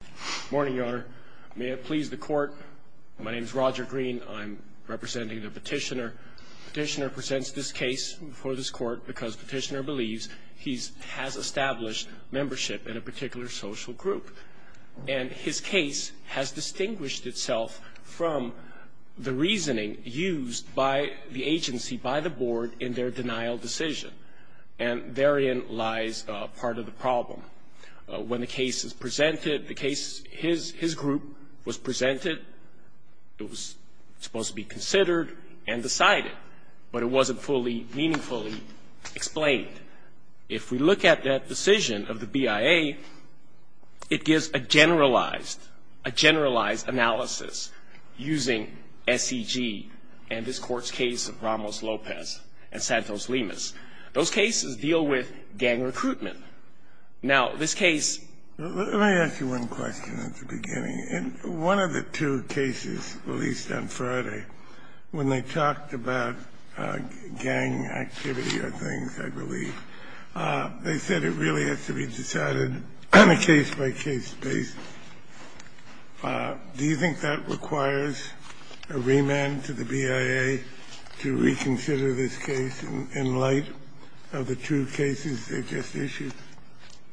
Good morning, Your Honor. May it please the court, my name is Roger Green. I'm representing the petitioner. The petitioner presents this case before this court because the petitioner believes he has established membership in a particular social group. And his case has distinguished itself from the reasoning used by the agency, by the board, in their denial decision. And therein lies part of the problem. When the case is presented, the case, his group was presented. It was supposed to be considered and decided, but it wasn't fully, meaningfully explained. If we look at that decision of the BIA, it gives a generalized, a generalized analysis using SEG and this Court's case of Ramos-Lopez and Santos-Limas. Those cases deal with gang recruitment. Now, this case — Kennedy, Jr. Let me ask you one question at the beginning. In one of the two cases released on Friday, when they talked about gang activity or things, I believe, they said it really has to be decided case-by-case basis. Do you think that requires a remand to the BIA to reconsider this case in light of the two cases they just issued?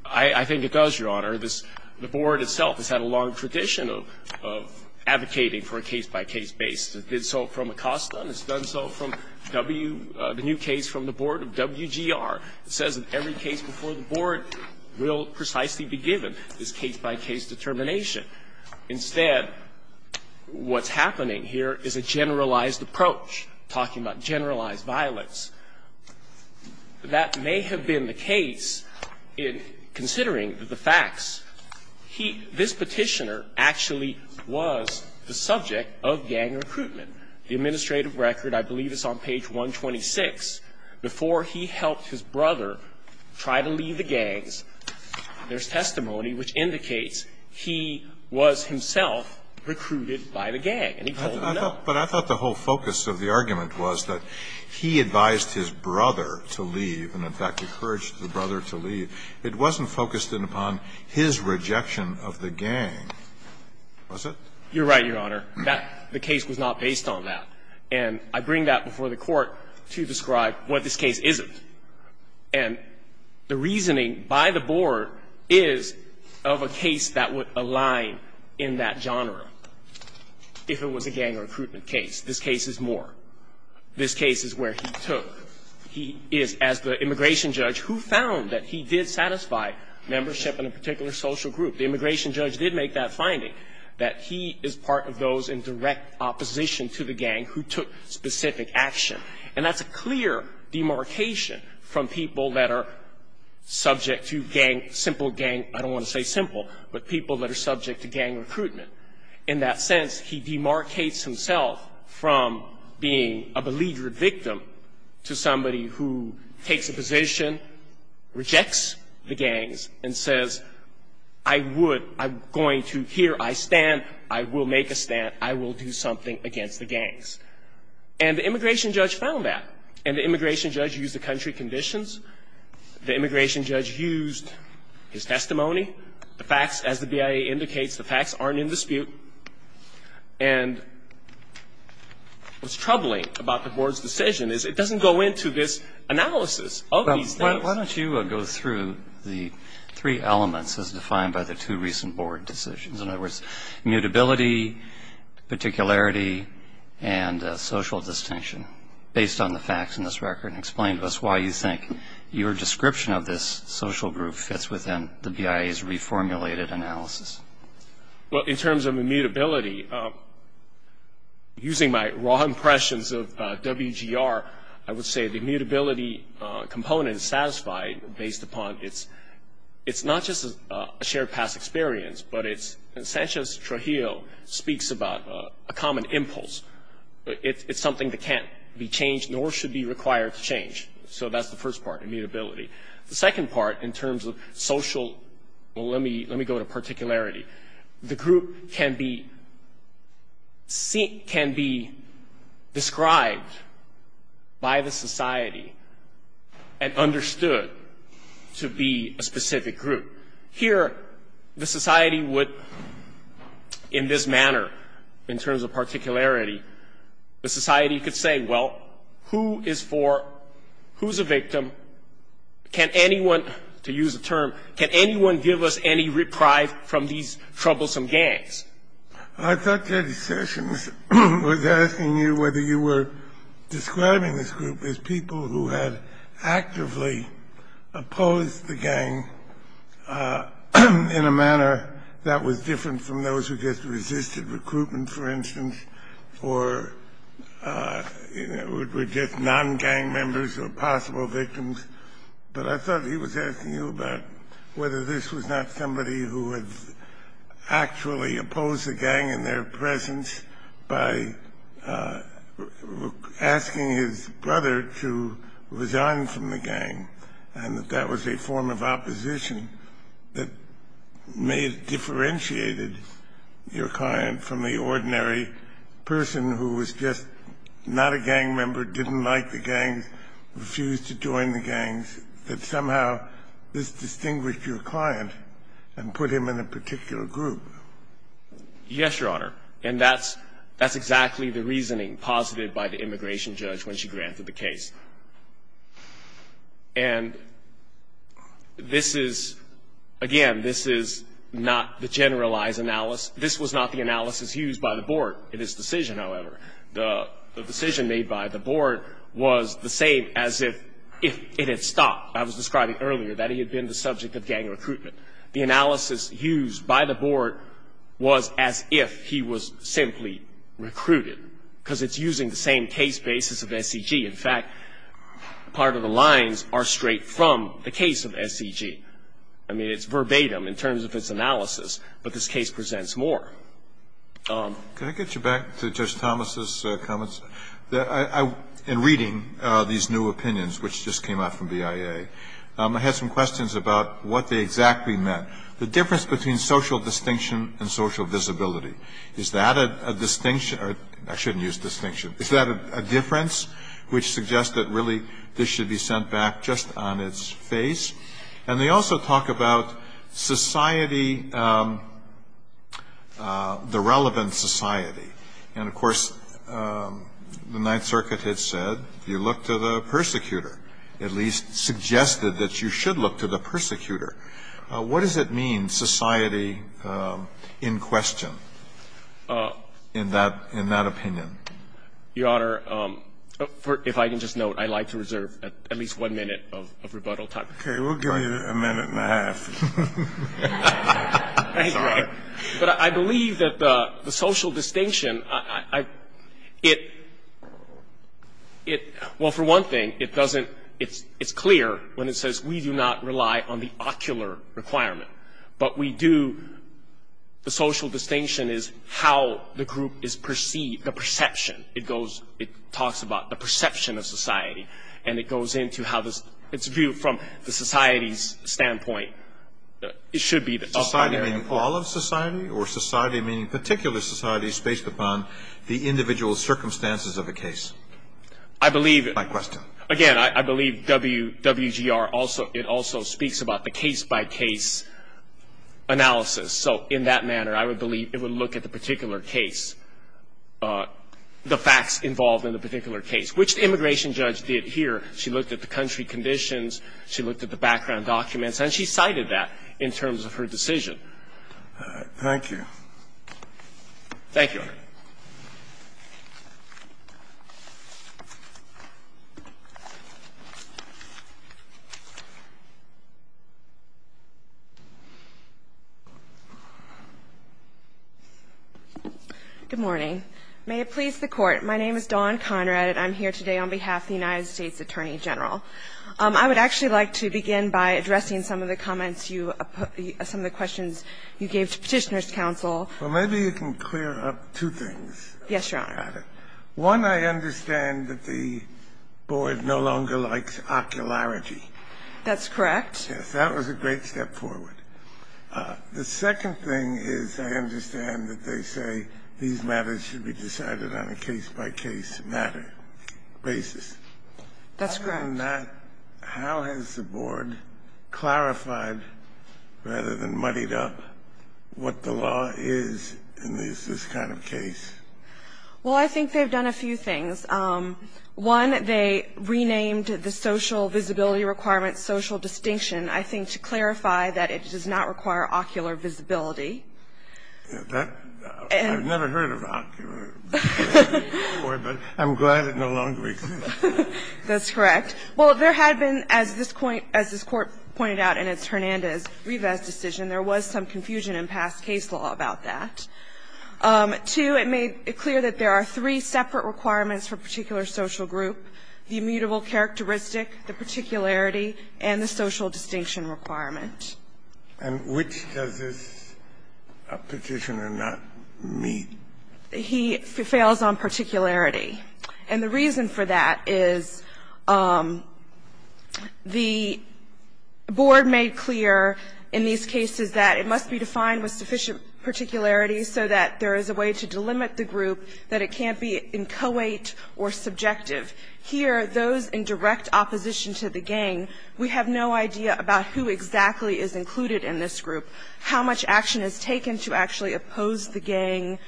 I think it does, Your Honor. The board itself has had a long tradition of advocating for a case-by-case basis. It did so from ACOSTA, and it's done so from W — the new case from the board of WGR. It says that every case before the board will precisely be given this case-by-case determination. Instead, what's happening here is a generalized approach, talking about generalized violence. That may have been the case in considering the facts. He — this Petitioner actually was the subject of gang recruitment. The administrative record, I believe it's on page 126, before he helped his brother try to leave the gangs, there's testimony which indicates he was himself recruited by the gang, and he told them no. But I thought the whole focus of the argument was that he advised his brother to leave and, in fact, encouraged the brother to leave. It wasn't focused upon his rejection of the gang, was it? You're right, Your Honor. That — the case was not based on that. And I bring that before the Court to describe what this case isn't. And the reasoning by the board is of a case that would align in that genre if it was a gang recruitment case. This case is more. This case is where he took — he is, as the immigration judge, who found that he did satisfy membership in a particular social group. The immigration judge did make that finding, that he is part of those in direct opposition to the gang who took specific action. And that's a clear demarcation from people that are subject to gang — simple gang. I don't want to say simple, but people that are subject to gang recruitment. In that sense, he demarcates himself from being a beleaguered victim to somebody who takes a position, rejects the gangs, and says, I would — I'm going to — here I stand. I will make a stand. I will do something against the gangs. And the immigration judge found that. And the immigration judge used the country conditions. The immigration judge used his testimony. The facts, as the BIA indicates, the facts aren't in dispute. And what's troubling about the board's decision is it doesn't go into this analysis of these things. Well, why don't you go through the three elements as defined by the two recent board decisions. In other words, mutability, particularity, and social distinction, based on the facts in this record, and explain to us why you think your description of this social group fits within the BIA's reformulated analysis. Well, in terms of immutability, using my raw impressions of WGR, I would say the mutability component is satisfied based upon its — it's not just a shared past experience, but it's — and Sanchez-Trujillo speaks about a common impulse. It's something that can't be changed, nor should be required to change. So that's the first part, immutability. The second part, in terms of social — well, let me go to particularity. The group can be described by the society and understood to be a specific group. Here, the society would, in this manner, in terms of particularity, the society could say, well, who is for — who's a victim? Can anyone — to use a term, can anyone give us any reprieve from these troublesome gangs? I thought J.D. Sessions was asking you whether you were describing this group as people who had actively opposed the gang in a manner that was different from those who just were just non-gang members or possible victims. But I thought he was asking you about whether this was not somebody who had actually opposed the gang in their presence by asking his brother to resign from the gang, and that that was a form of opposition that may have differentiated your client from the ordinary person who was just not a gang member, didn't like the gangs, refused to join the gangs, that somehow this distinguished your client and put him in a particular group. Yes, Your Honor. And that's — that's exactly the reasoning posited by the immigration judge when she granted the case. And this is — again, this is not the generalized analysis. This was not the analysis used by the board in its decision, however. The decision made by the board was the same as if it had stopped. I was describing earlier that he had been the subject of gang recruitment. The analysis used by the board was as if he was simply recruited, because it's using the same case basis of SEG. In fact, part of the lines are straight from the case of SEG. I mean, it's verbatim in terms of its analysis, but this case presents more. Can I get you back to Judge Thomas's comments? In reading these new opinions, which just came out from BIA, I had some questions about what they exactly meant. The difference between social distinction and social visibility, is that a distinction — I shouldn't use distinction — is that a difference which suggests that really this should be sent back just on its face? And they also talk about society, the relevant society. And, of course, the Ninth Circuit had said you look to the persecutor, at least suggested that you should look to the persecutor. What does it mean, society in question, in that opinion? Your Honor, if I can just note, I'd like to reserve at least one minute of rebuttal time. Okay, we'll give you a minute and a half. Thank you. But I believe that the social distinction, it — well, for one thing, it doesn't — it's clear when it says we do not rely on the ocular requirement. But we do — the social distinction is how the group is perceived, the perception. It goes — it talks about the perception of society. And it goes into how the — its view from the society's standpoint. It should be the ocular requirement. Society meaning all of society, or society meaning particular societies based upon the individual circumstances of a case? I believe — My question. Again, I believe WGR also — it also speaks about the case-by-case analysis. So in that manner, I would believe it would look at the particular case, the facts involved in the particular case, which the immigration judge did here. She looked at the country conditions. She looked at the background documents. And she cited that in terms of her decision. Thank you. Thank you, Your Honor. Good morning. May it please the Court. My name is Dawn Conrad. And I'm here today on behalf of the United States Attorney General. I would actually like to begin by addressing some of the comments you — some of the questions you gave to Petitioner's counsel. Well, maybe you can clear up two things. Yes, Your Honor. One, I understand that the board no longer likes ocularity. That's correct. Yes. That was a great step forward. The second thing is I understand that they say these matters should be decided on a case-by-case matter basis. That's correct. Other than that, how has the board clarified, rather than muddied up, what the law is in this kind of case? Well, I think they've done a few things. One, they renamed the social visibility requirements social distinction, I think, to clarify that it does not require ocular visibility. I've never heard of ocular visibility before, but I'm glad it no longer exists. That's correct. Well, there had been, as this Court pointed out in its Hernandez-Rivas decision, there was some confusion in past case law about that. Two, it made it clear that there are three separate requirements for particular social group, the immutable characteristic, the particularity, and the social distinction requirement. And which does this Petitioner not meet? He fails on particularity. And the reason for that is the board made clear in these cases that it must be defined with sufficient particularity so that there is a way to delimit the group, that it is not a case where there is a particularity requirement. Here, those in direct opposition to the gang, we have no idea about who exactly is included in this group, how much action is taken to actually oppose the gang,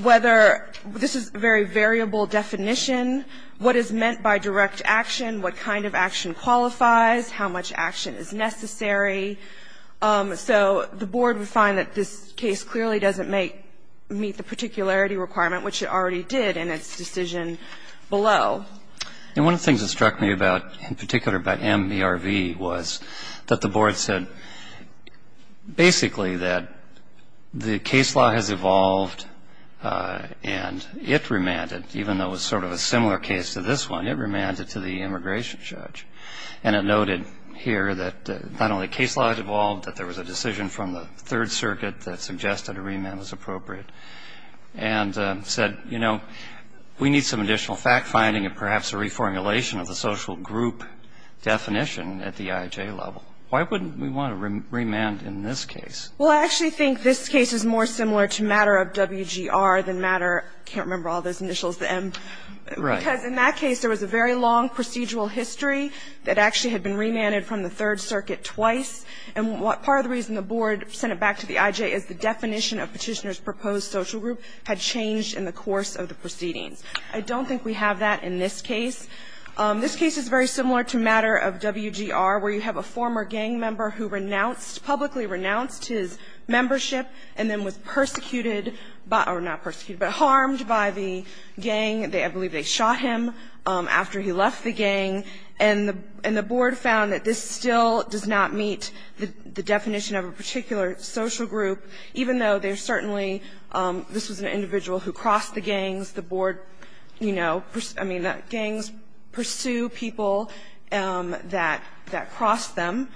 whether this is a very variable definition, what is meant by direct action, what kind of action qualifies, how much action is necessary. So the board would find that this case clearly doesn't meet the particularity requirement, which it already did in its decision below. And one of the things that struck me about, in particular, about MBRV was that the board said basically that the case law has evolved and it remanded, even though it was sort of a similar case to this one, it remanded to the immigration judge. And it noted here that not only case law has evolved, that there was a decision from the Third Circuit that suggested a remand was appropriate, and said, you know, we need some additional fact-finding and perhaps a reformulation of the social group definition at the IJ level. Why wouldn't we want to remand in this case? Well, I actually think this case is more similar to Matter of WGR than Matter of, I can't remember all those initials, the M. Right. Because in that case, there was a very long procedural history that actually had been remanded from the Third Circuit twice, and part of the reason the board sent it back to the IJ is the definition of Petitioner's proposed social group had changed in the course of the proceedings. I don't think we have that in this case. This case is very similar to Matter of WGR, where you have a former gang member who renounced, publicly renounced his membership and then was persecuted by, or not persecuted, but harmed by the gang. I believe they shot him after he left the gang. And the board found that this still does not meet the definition of a particular social group, even though there's certainly, this was an individual who crossed the gangs. The board, you know, I mean, gangs pursue people that cross them.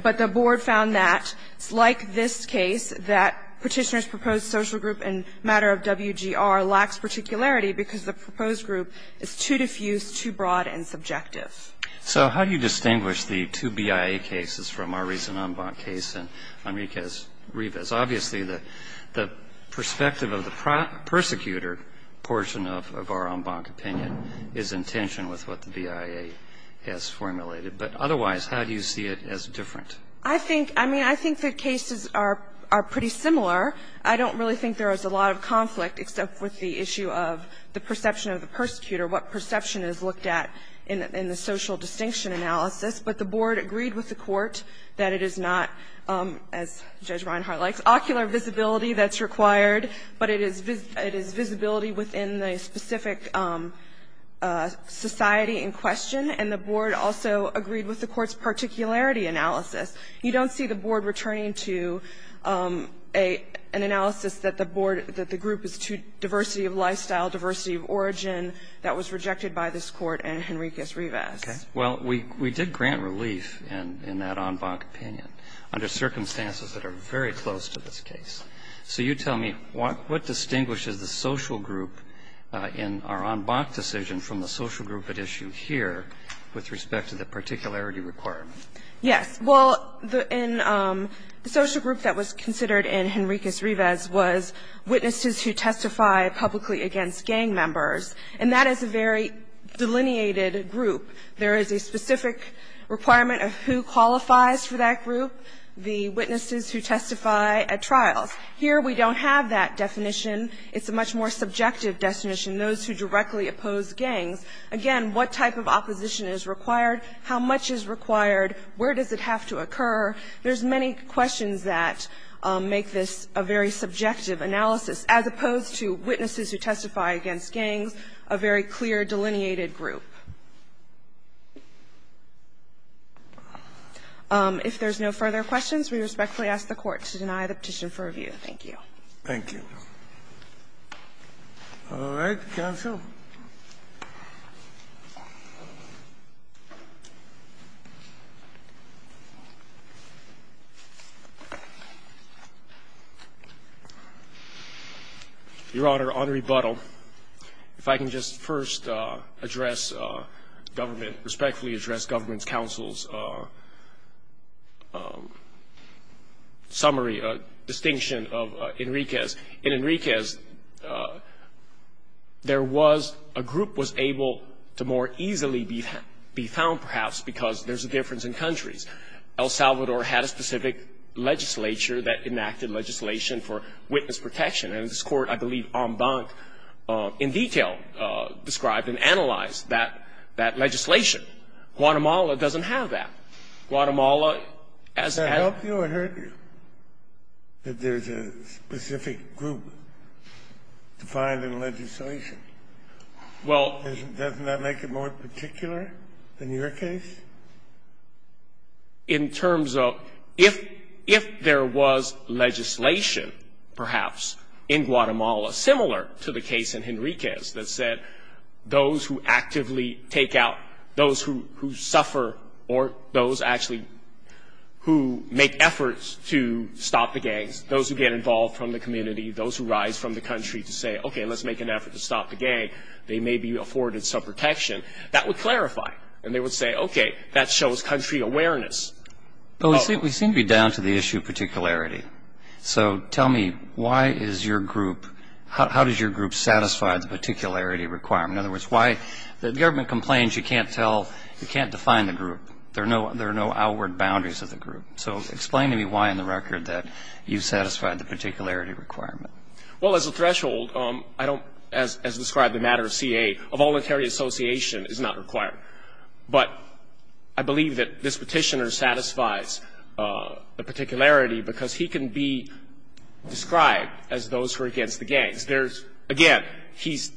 But the board found that, like this case, that Petitioner's proposed social group in Matter of WGR lacks particularity because the proposed group is too diffused, too broad and subjective. So how do you distinguish the two BIA cases from our recent en banc case and Enriquez-Rivas? Obviously, the perspective of the persecutor portion of our en banc opinion is in tension with what the BIA has formulated. But otherwise, how do you see it as different? I think, I mean, I think the cases are pretty similar. I don't really think there is a lot of conflict, except with the issue of the perception of the persecutor, what perception is looked at in the social distinction analysis. But the board agreed with the Court that it is not, as Judge Reinhart likes, ocular visibility that's required, but it is visibility within the specific society in question. And the board also agreed with the Court's particularity analysis. You don't see the board returning to an analysis that the board, that the group is too diversity of lifestyle, diversity of origin. That was rejected by this Court and Enriquez-Rivas. Well, we did grant relief in that en banc opinion under circumstances that are very close to this case. So you tell me, what distinguishes the social group in our en banc decision from the social group at issue here with respect to the particularity requirement? Yes. Well, in the social group that was considered in Enriquez-Rivas was witnesses who testify publicly against gang members. And that is a very delineated group. There is a specific requirement of who qualifies for that group. The witnesses who testify at trials. Here we don't have that definition. It's a much more subjective definition, those who directly oppose gangs. Again, what type of opposition is required? How much is required? Where does it have to occur? There's many questions that make this a very subjective analysis, as opposed to witnesses who testify against gangs, a very clear delineated group. If there's no further questions, we respectfully ask the Court to deny the petition for review. Thank you. Thank you. All right. Counsel. Your Honor, on rebuttal. If I can just first address government, respectfully address government's counsel's summary, distinction of Enriquez. In Enriquez, there was a group was able to more easily be found, perhaps, because there's a difference in countries. El Salvador had a specific legislature that enacted legislation for witness protection. And this Court, I believe, en banc, in detail, described and analyzed that legislation. Guatemala doesn't have that. Guatemala, as a ---- Does that help you or hurt you that there's a specific group defined in legislation? Well ---- Doesn't that make it more particular in your case? In terms of if there was legislation, perhaps, in Guatemala similar to the case in Enriquez that said those who actively take out, those who suffer or those actually who make efforts to stop the gangs, those who get involved from the community, those who rise from the country to say, okay, let's make an effort to stop the gang, they may be afforded some protection, that would clarify. And they would say, okay, that shows country awareness. But we seem to be down to the issue of particularity. So tell me, why is your group ---- how does your group satisfy the particularity requirement? In other words, why the government complains you can't tell, you can't define the group. There are no outward boundaries of the group. So explain to me why in the record that you satisfied the particularity requirement. Well, as a threshold, I don't, as described in the matter of CA, a voluntary association is not required. But I believe that this petitioner satisfies the particularity because he can be described as those who are against the gangs. There's, again, he's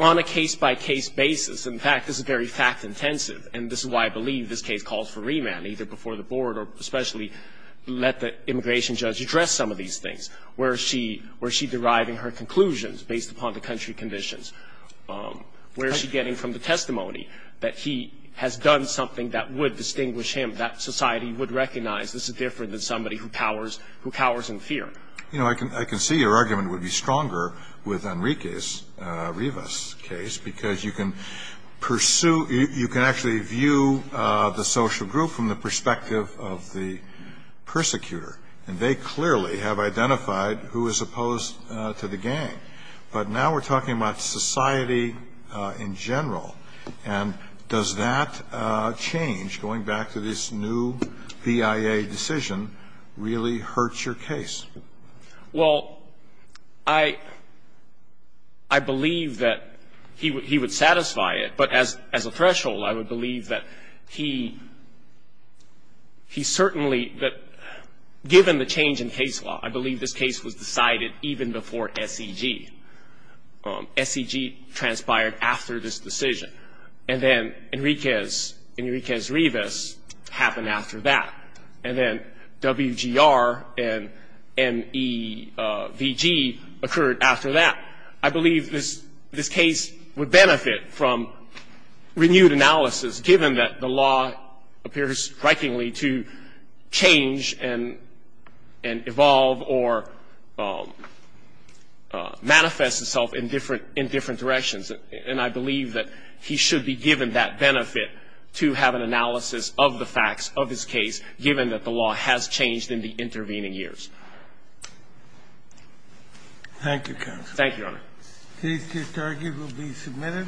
on a case-by-case basis. In fact, this is very fact-intensive. And this is why I believe this case calls for remand, either before the board or especially let the immigration judge address some of these things. Where is she? Where is she deriving her conclusions based upon the country conditions? Where is she getting from the testimony that he has done something that would distinguish him that society would recognize this is different than somebody who cowers in fear? You know, I can see your argument would be stronger with Enrique's, Rivas' case, because you can pursue ---- you can actually view the social group from the perspective of the persecutor. And they clearly have identified who is opposed to the gang. But now we're talking about society in general. And does that change, going back to this new BIA decision, really hurt your case? Well, I believe that he would satisfy it. But as a threshold, I would believe that he certainly ---- given the change in case law, I believe this case was decided even before SEG. SEG transpired after this decision. And then Enrique's, Rivas' happened after that. And then WGR and NEVG occurred after that. I believe this case would benefit from renewed analysis, given that the law appears strikingly to change and evolve or manifest itself in different directions. And I believe that he should be given that benefit to have an analysis of the facts of his case, given that the law has changed in the intervening years. Thank you, counsel. Thank you, Your Honor. The case to start here will be submitted.